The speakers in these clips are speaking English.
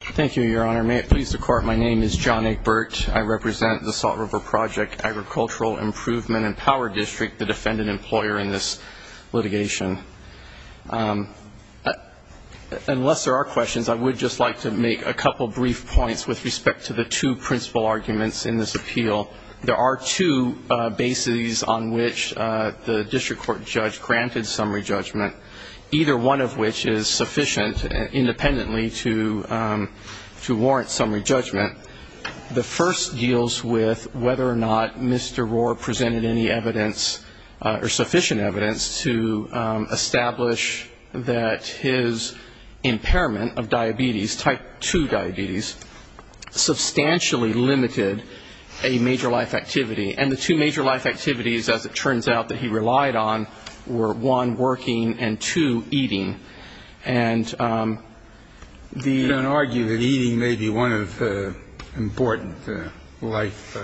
Thank you, Your Honor. May it please the Court, my name is John Egbert. I represent the Salt River Project Agricultural Improvement and Power District, the defendant employer in this litigation. Unless there are questions, I would just like to make a couple brief points with respect to the two principal arguments in this appeal. There are two bases on which the district court judge granted summary judgment, either one of which is sufficient independently to warrant summary judgment. The first deals with whether or not Mr. Rohr presented any evidence or sufficient evidence to establish that his impairment of diabetes, type 2 diabetes, substantially limited a major life activity. And the two major life activities, as it turns out, that he relied on were, one, working, and two, eating. And the ---- You don't argue that eating may be one of the important life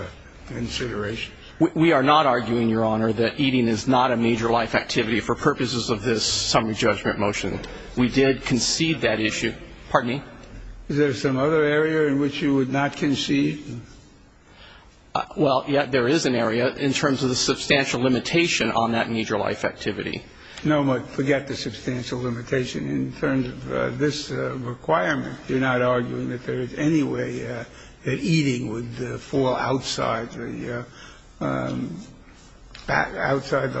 considerations? We are not arguing, Your Honor, that eating is not a major life activity for purposes of this summary judgment motion. We did concede that issue. Pardon me? Is there some other area in which you would not concede? Well, yes, there is an area in terms of the substantial limitation on that major life activity. No, but forget the substantial limitation. In terms of this requirement, you're not arguing that there is any way that eating would fall outside the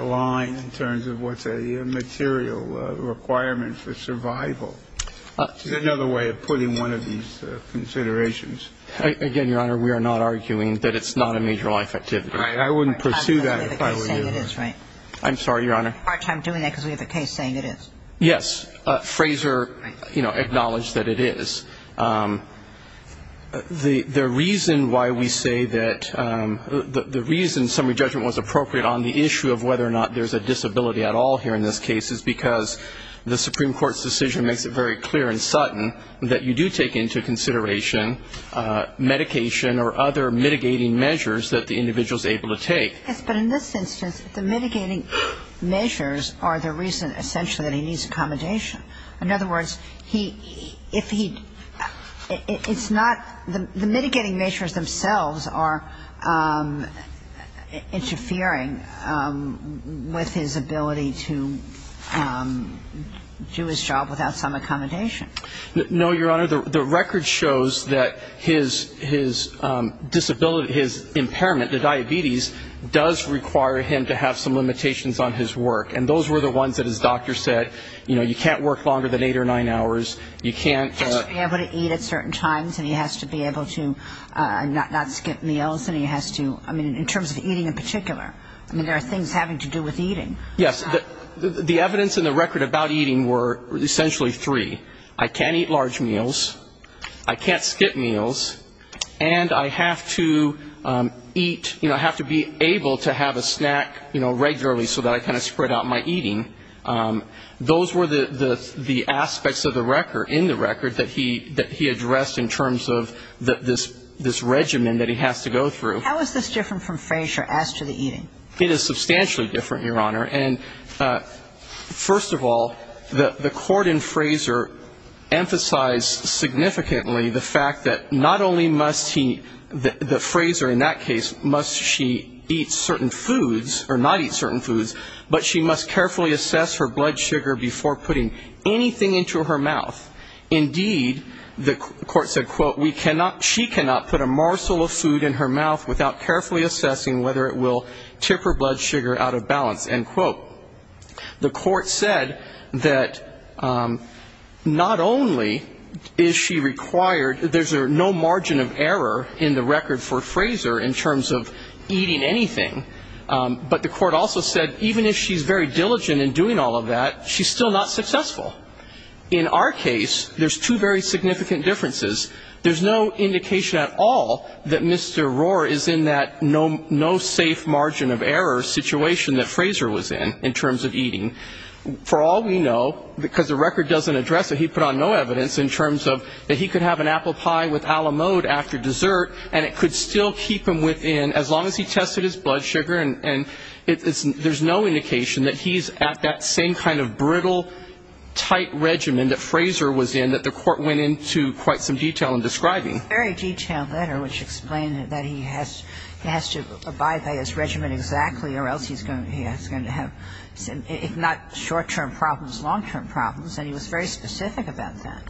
line in terms of what's a material requirement for survival. It's another way of putting one of these considerations. Again, Your Honor, we are not arguing that it's not a major life activity. I wouldn't pursue that if I were you. I'm sorry, Your Honor. I'm having a hard time doing that because we have a case saying it is. Yes, Fraser acknowledged that it is. The reason why we say that the reason summary judgment was appropriate on the issue of whether or not there's a disability at all here in this case is because the Supreme Court's decision makes it very clear and sudden that you do take into consideration medication or other mitigating measures that the individual is able to take. Yes, but in this instance, the mitigating measures are the reason essentially that he needs accommodation. In other words, he – if he – it's not – the mitigating measures themselves are interfering with his ability to do his job without some accommodation. No, Your Honor. The record shows that his disability – his impairment, the diabetes, does require him to have some limitations on his work. And those were the ones that his doctor said, you know, you can't work longer than eight or nine hours. You can't – He has to be able to eat at certain times and he has to be able to not skip meals and he has to – I mean, in terms of eating in particular. I mean, there are things having to do with eating. Yes. The evidence in the record about eating were essentially three. I can't eat large meals. I can't skip meals. And I have to eat – you know, I have to be able to have a snack, you know, regularly so that I kind of spread out my eating. Those were the aspects of the record – in the record that he addressed in terms of this regimen that he has to go through. How is this different from Frazier as to the eating? It is substantially different, Your Honor. And first of all, the court in Frazier emphasized significantly the fact that not only must he – the Frazier in that case, must she eat certain foods or not eat certain foods, but she must carefully assess her blood sugar before putting anything into her mouth. Indeed, the court said, quote, we cannot – she cannot put a morsel of food in her mouth without carefully assessing whether it will tip her blood sugar out of balance. End quote. The court said that not only is she required – there's no margin of error in the record for Frazier in terms of eating anything, but the court also said even if she's very diligent in doing all of that, she's still not successful. In our case, there's two very significant differences. There's no indication at all that Mr. Rohr is in that no safe margin of error situation that Frazier was in, in terms of eating. For all we know, because the record doesn't address it, he put on no evidence in terms of that he could have an apple pie with Alamode after dessert and it could still keep him within as long as he tested his blood sugar. And there's no indication that he's at that same kind of brittle, tight regimen that Frazier was in that the court went into quite some detail in describing. It's a very detailed letter which explained that he has to abide by his regimen exactly or else he's going to have, if not short-term problems, long-term problems, and he was very specific about that.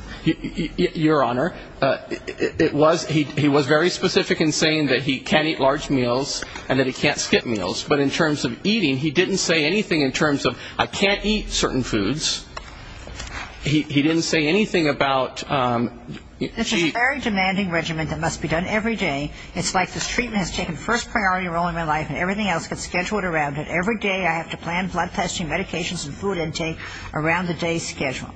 Your Honor, it was he was very specific in saying that he can't eat large meals and that he can't skip meals. But in terms of eating, he didn't say anything in terms of I can't eat certain foods. He didn't say anything about... It's a very demanding regimen that must be done every day. It's like this treatment has taken first priority role in my life and everything else gets scheduled around it. Every day I have to plan blood testing, medications and food intake around the day's schedule.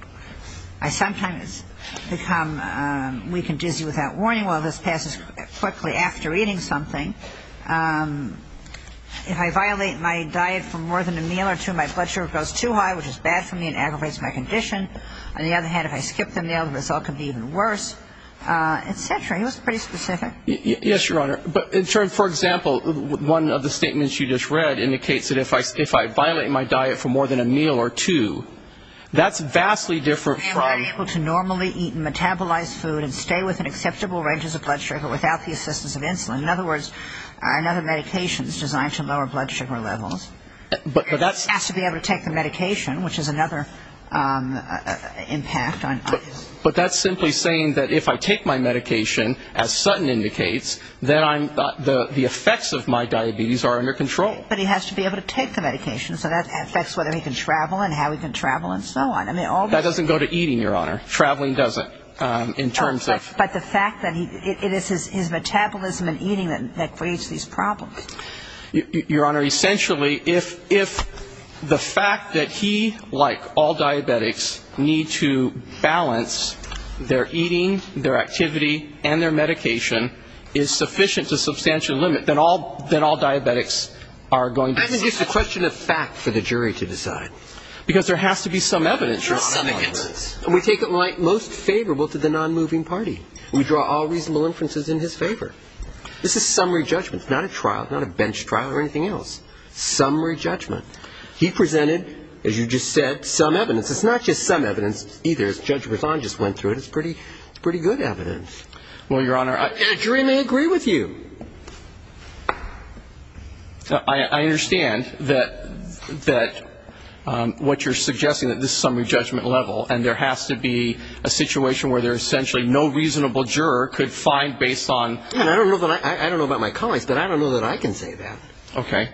I sometimes become weak and dizzy without warning. Well, this passes quickly after eating something. If I violate my diet for more than a meal or two, my blood sugar goes too high, which is bad for me and aggravates my condition. On the other hand, if I skip the meal, the result could be even worse, et cetera. He was pretty specific. Yes, Your Honor. But in terms, for example, one of the statements you just read indicates that if I violate my diet for more than a meal or two, that's vastly different from... He may not be able to normally eat metabolized food and stay within acceptable ranges of blood sugar without the assistance of insulin. In other words, another medication is designed to lower blood sugar levels. But that's... He has to be able to take the medication, which is another impact on... But that's simply saying that if I take my medication, as Sutton indicates, then the effects of my diabetes are under control. But he has to be able to take the medication, so that affects whether he can travel and how he can travel and so on. That doesn't go to eating, Your Honor. Traveling doesn't in terms of... But the fact that it is his metabolism and eating that creates these problems. Your Honor, essentially, if the fact that he, like all diabetics, need to balance their eating, their activity, and their medication, is sufficient to substantial limit, then all diabetics are going to... I think it's a question of fact for the jury to decide. Because there has to be some evidence, Your Honor. Some evidence. And we take it most favorable to the non-moving party. We draw all reasonable inferences in his favor. This is summary judgment. It's not a trial, not a bench trial or anything else. Summary judgment. He presented, as you just said, some evidence. It's not just some evidence either. As Judge Berzon just went through it, it's pretty good evidence. Well, Your Honor, jury may agree with you. I understand that what you're suggesting, that this is summary judgment level, and there has to be a situation where there's essentially no reasonable juror could find based on... I don't know about my colleagues, but I don't know that I can say that. Okay.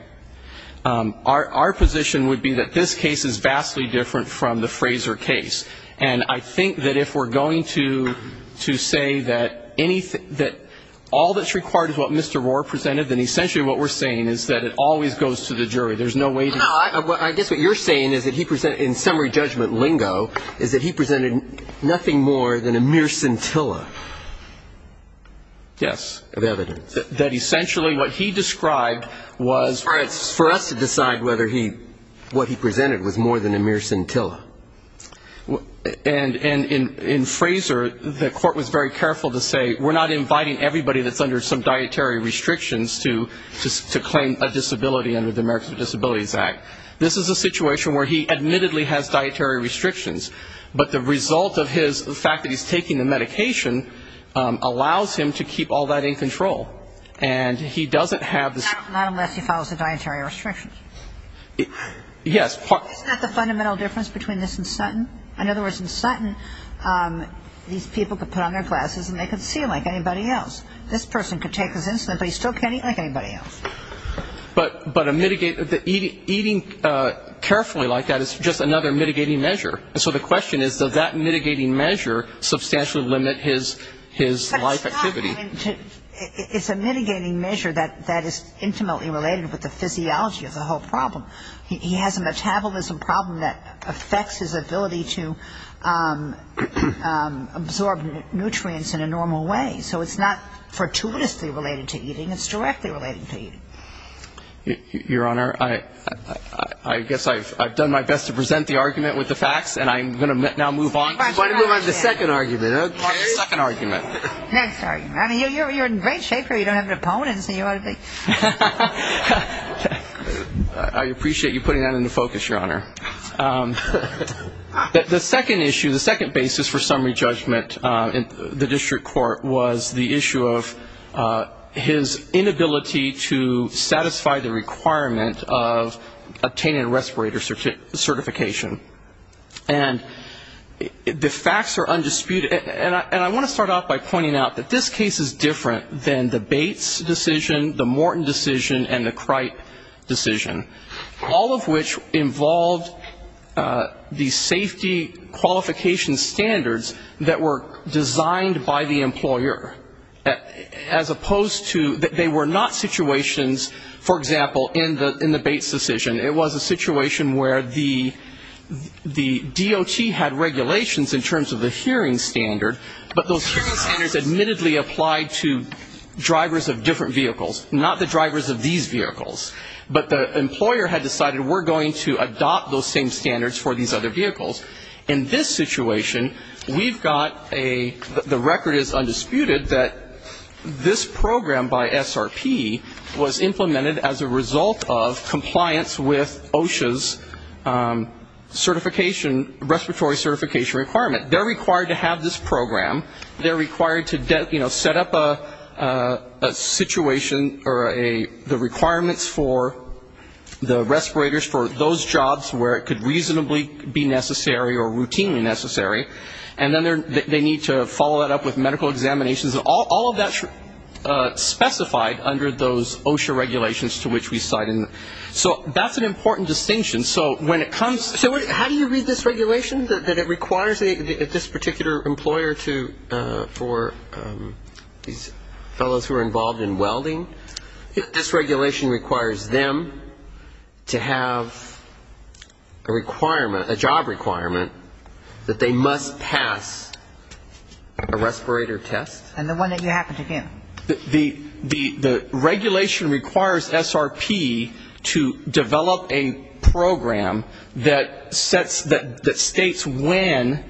Our position would be that this case is vastly different from the Fraser case. And I think that if we're going to say that all that's required is what Mr. Rohr presented, then essentially what we're saying is that it always goes to the jury. There's no way to... No. I guess what you're saying is that he presented, in summary judgment lingo, is that he presented nothing more than a mere scintilla. Yes. Of evidence. That essentially what he described was... All right. It's for us to decide whether what he presented was more than a mere scintilla. And in Fraser, the court was very careful to say, we're not inviting everybody that's under some dietary restrictions to claim a disability under the Americans with Disabilities Act. This is a situation where he admittedly has dietary restrictions, but the result of his fact that he's taking the medication allows him to keep all that in control. And he doesn't have... Not unless he follows the dietary restrictions. Yes. Isn't that the fundamental difference between this and Sutton? In other words, in Sutton, these people could put on their glasses and they could see like anybody else. This person could take his insulin, but he still can't eat like anybody else. But a mitigating... Eating carefully like that is just another mitigating measure. And so the question is, does that mitigating measure substantially limit his life activity? It's a mitigating measure that is intimately related with the physiology of the whole problem. He has a metabolism problem that affects his ability to absorb nutrients in a normal way. So it's not fortuitously related to eating. It's directly related to eating. Your Honor, I guess I've done my best to present the argument with the facts, and I'm going to now move on to the second argument. Okay. The second argument. Next argument. I mean, you're in great shape here. You don't have an opponent, so you ought to be... I appreciate you putting that into focus, Your Honor. The second issue, the second basis for summary judgment in the district court, was the issue of his inability to satisfy the requirement of obtaining a respirator certification. And the facts are undisputed. And I want to start off by pointing out that this case is different than the Bates decision, the Morton decision, and the Cripe decision, all of which involved the safety qualification standards that were designed by the employer, as opposed to they were not situations, for example, in the Bates decision. It was a situation where the DOT had regulations in terms of the hearing standard, but those hearing standards admittedly applied to drivers of different vehicles, not the drivers of these vehicles. But the employer had decided we're going to adopt those same standards for these other vehicles. In this situation, we've got a, the record is undisputed, that this program by SRP was implemented as a result of compliance with OSHA's certification, respiratory certification requirement. They're required to have this program. They're required to, you know, set up a situation or the requirements for the respirators for those jobs where it could reasonably be necessary or routinely necessary. And then they need to follow that up with medical examinations. All of that's specified under those OSHA regulations to which we cite. So that's an important distinction. So when it comes to it, how do you read this regulation that it requires this particular employer to, for these fellows who are involved in welding, this regulation requires them to have a requirement, a job requirement, that they must pass a respirator test. And the one that you happen to give. The regulation requires SRP to develop a program that sets, that states when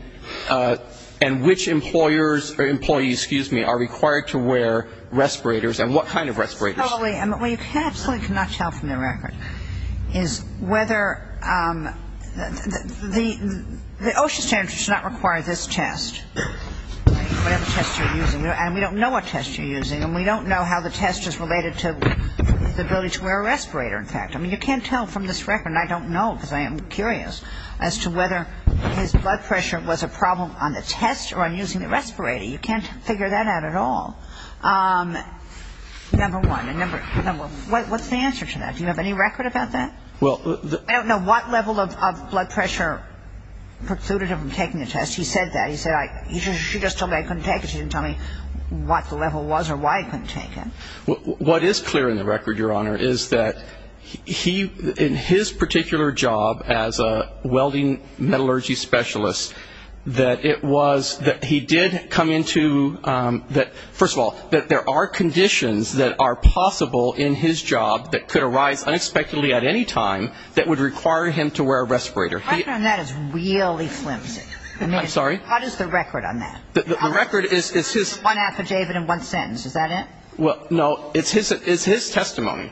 and which employers, or employees, excuse me, are required to wear respirators and what kind of respirators. Well, you absolutely cannot tell from the record is whether, the OSHA standards do not require this test, whatever test you're using. And we don't know what test you're using. And we don't know how the test is related to the ability to wear a respirator, in fact. I mean, you can't tell from this record, and I don't know because I am curious, as to whether his blood pressure was a problem on the test or on using the respirator. You can't figure that out at all. Number one, what's the answer to that? Do you have any record about that? I don't know what level of blood pressure precluded him from taking the test. He said that. He said, she just told me I couldn't take it. She didn't tell me what the level was or why I couldn't take it. What is clear in the record, Your Honor, is that he, in his particular job as a welding metallurgy specialist, that it was, that he did come into, first of all, that there are conditions that are possible in his job that could arise unexpectedly at any time that would require him to wear a respirator. The record on that is really flimsy. I'm sorry? What is the record on that? The record is his. There's one affidavit and one sentence. Is that it? Well, no. It's his testimony.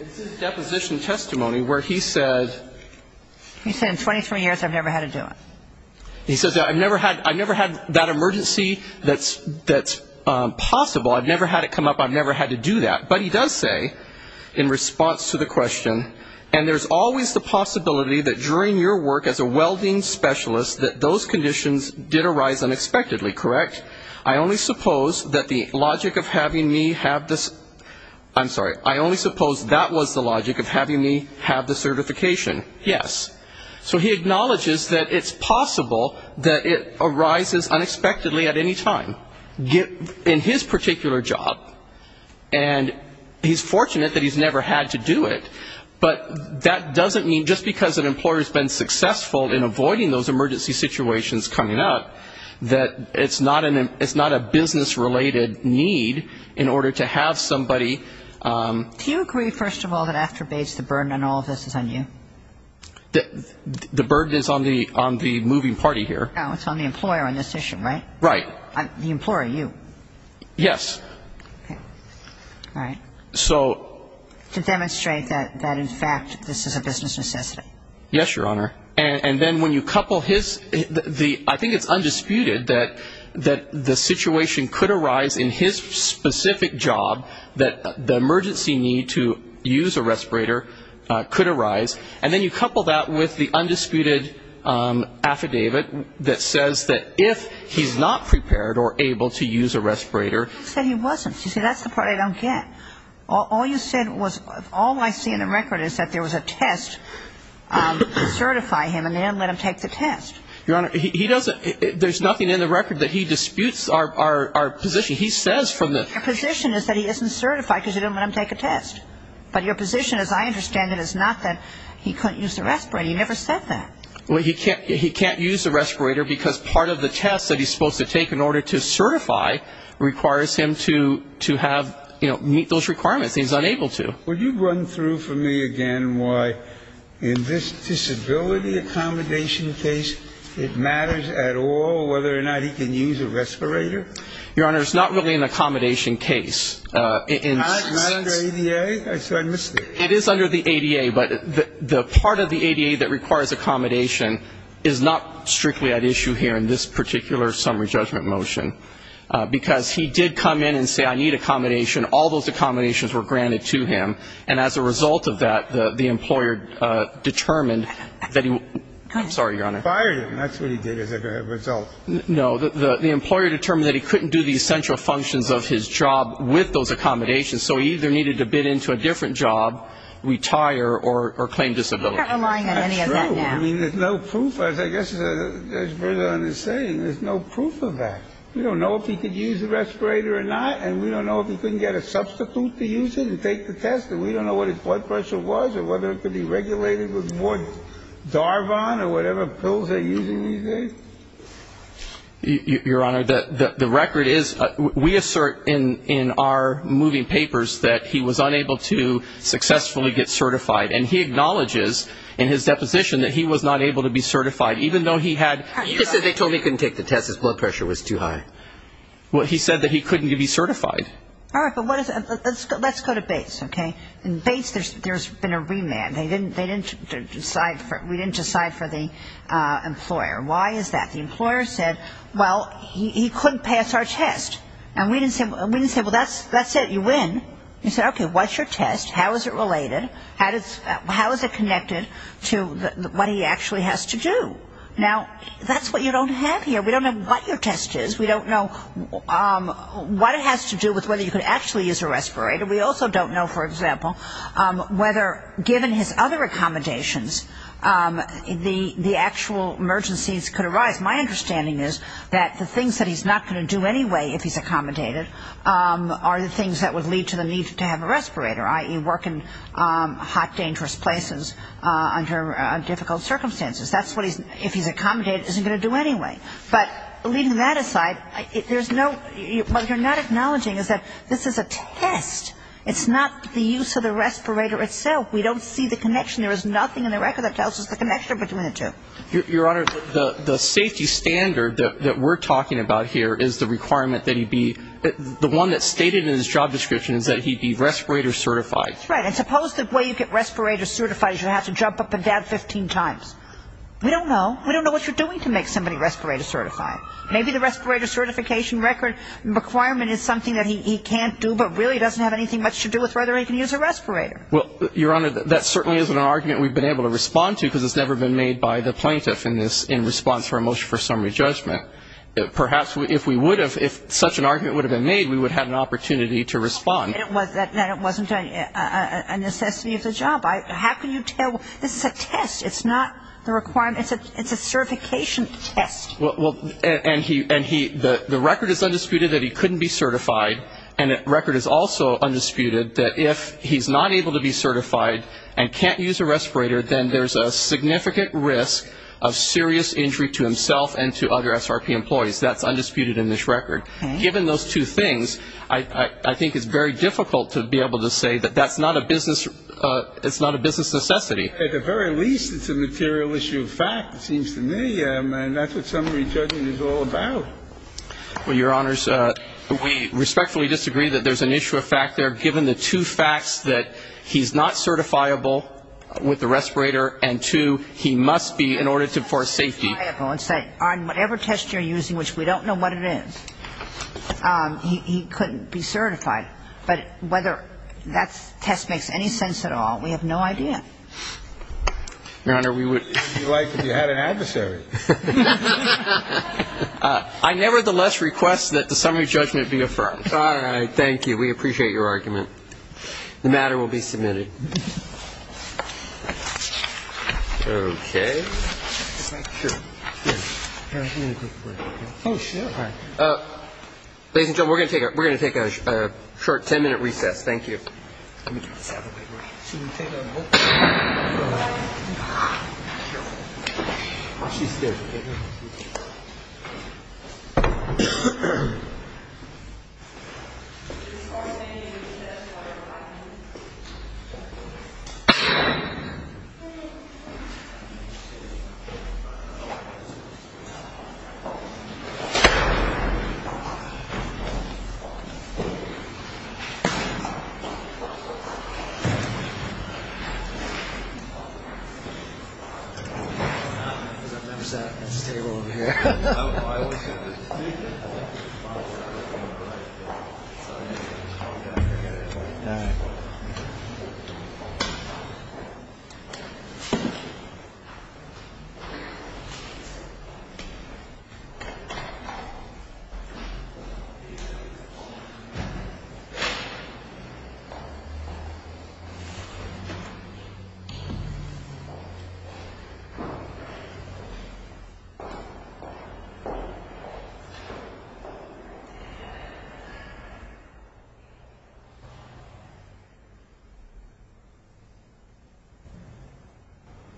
It's his deposition testimony where he said... He said, in 23 years, I've never had to do it. He says, I've never had that emergency that's possible. I've never had it come up. I've never had to do that. But he does say, in response to the question, and there's always the possibility that during your work as a welding specialist that those conditions did arise unexpectedly, correct? I only suppose that the logic of having me have this, I'm sorry, I only suppose that was the logic of having me have the certification. Yes. So he acknowledges that it's possible that it arises unexpectedly at any time in his particular job, and he's fortunate that he's never had to do it, but that doesn't mean just because an employer has been successful in avoiding those emergency situations coming up, that it's not a business-related need in order to have somebody... Do you agree, first of all, that after Bates, the burden on all of this is on you? The burden is on the moving party here. No, it's on the employer on this issue, right? Right. The employer, you. Yes. Okay. All right. To demonstrate that, in fact, this is a business necessity. Yes, Your Honor. And then when you couple his, I think it's undisputed that the situation could arise in his specific job, that the emergency need to use a respirator could arise, and then you couple that with the undisputed affidavit that says that if he's not prepared or able to use a respirator... He said he wasn't. You see, that's the part I don't get. All you said was, all I see in the record is that there was a test to certify him, and they didn't let him take the test. Your Honor, there's nothing in the record that he disputes our position. He says from the... Your position is that he isn't certified because you didn't let him take a test. But your position, as I understand it, is not that he couldn't use the respirator. You never said that. Well, he can't use the respirator because part of the test that he's supposed to take in order to certify requires him to have, you know, meet those requirements. He's unable to. Would you run through for me again why in this disability accommodation case it matters at all whether or not he can use a respirator? Your Honor, it's not really an accommodation case. It's not under ADA? I missed it. It is under the ADA, but the part of the ADA that requires accommodation is not strictly at issue here in this particular summary judgment motion. Because he did come in and say, I need accommodation. All those accommodations were granted to him. And as a result of that, the employer determined that he... I'm sorry, Your Honor. He fired him. That's what he did as a result. No. The employer determined that he couldn't do the essential functions of his job with those accommodations, so he either needed to bid into a different job, retire, or claim disability. We're not relying on any of that now. That's true. I mean, there's no proof. As I guess Judge Bergeron is saying, there's no proof of that. We don't know if he could use the respirator or not, and we don't know if he couldn't get a substitute to use it and take the test, and we don't know what his blood pressure was or whether it could be regulated with more Darvon or whatever pills they're using these days. Your Honor, the record is we assert in our moving papers that he was unable to successfully get certified, and he acknowledges in his deposition that he was not able to be certified, even though he had... Well, he said that he couldn't be certified. All right, but let's go to Bates, okay? In Bates, there's been a remand. They didn't decide for... We didn't decide for the employer. Why is that? The employer said, well, he couldn't pass our test, and we didn't say, well, that's it, you win. We said, okay, what's your test? How is it related? How is it connected to what he actually has to do? Now, that's what you don't have here. We don't know what your test is. We don't know what it has to do with whether you could actually use a respirator. We also don't know, for example, whether given his other accommodations, the actual emergencies could arise. My understanding is that the things that he's not going to do anyway if he's accommodated are the things that would lead to the need to have a respirator, i.e. work in hot, dangerous places under difficult circumstances. That's what, if he's accommodated, he's going to do anyway. But leaving that aside, there's no... What you're not acknowledging is that this is a test. It's not the use of the respirator itself. We don't see the connection. There is nothing in the record that tells us the connection between the two. Your Honor, the safety standard that we're talking about here is the requirement that he be... The one that's stated in his job description is that he be respirator certified. Right. And suppose the way you get respirator certified is you have to jump up and down 15 times. We don't know. We don't know what you're doing to make somebody respirator certified. Maybe the respirator certification requirement is something that he can't do but really doesn't have anything much to do with whether he can use a respirator. Well, Your Honor, that certainly isn't an argument we've been able to respond to because it's never been made by the plaintiff in response for a motion for summary judgment. Perhaps if we would have, if such an argument would have been made, we would have had an opportunity to respond. And it wasn't a necessity of the job. How can you tell? This is a test. It's not the requirement. It's a certification test. Well, and the record is undisputed that he couldn't be certified, and the record is also undisputed that if he's not able to be certified and can't use a respirator, then there's a significant risk of serious injury to himself and to other SRP employees. That's undisputed in this record. Given those two things, I think it's very difficult to be able to say that that's not a business necessity. At the very least, it's a material issue of fact, it seems to me, and that's what summary judgment is all about. Well, Your Honors, we respectfully disagree that there's an issue of fact there. Given the two facts that he's not certifiable with the respirator and two, he must be in order for safety. Well, I think it's very difficult to be certifiable and say on whatever test you're using, which we don't know what it is, he couldn't be certified. But whether that test makes any sense at all, we have no idea. Your Honor, we would be like if you had an adversary. I nevertheless request that the summary judgment be affirmed. All right. Thank you. We appreciate your argument. The matter will be submitted. Okay. Ladies and gentlemen, we're going to take a short ten-minute recess. Thank you. Let me get this out of the way. Watch these stairs, okay? I've never sat at this table over here. Thank you.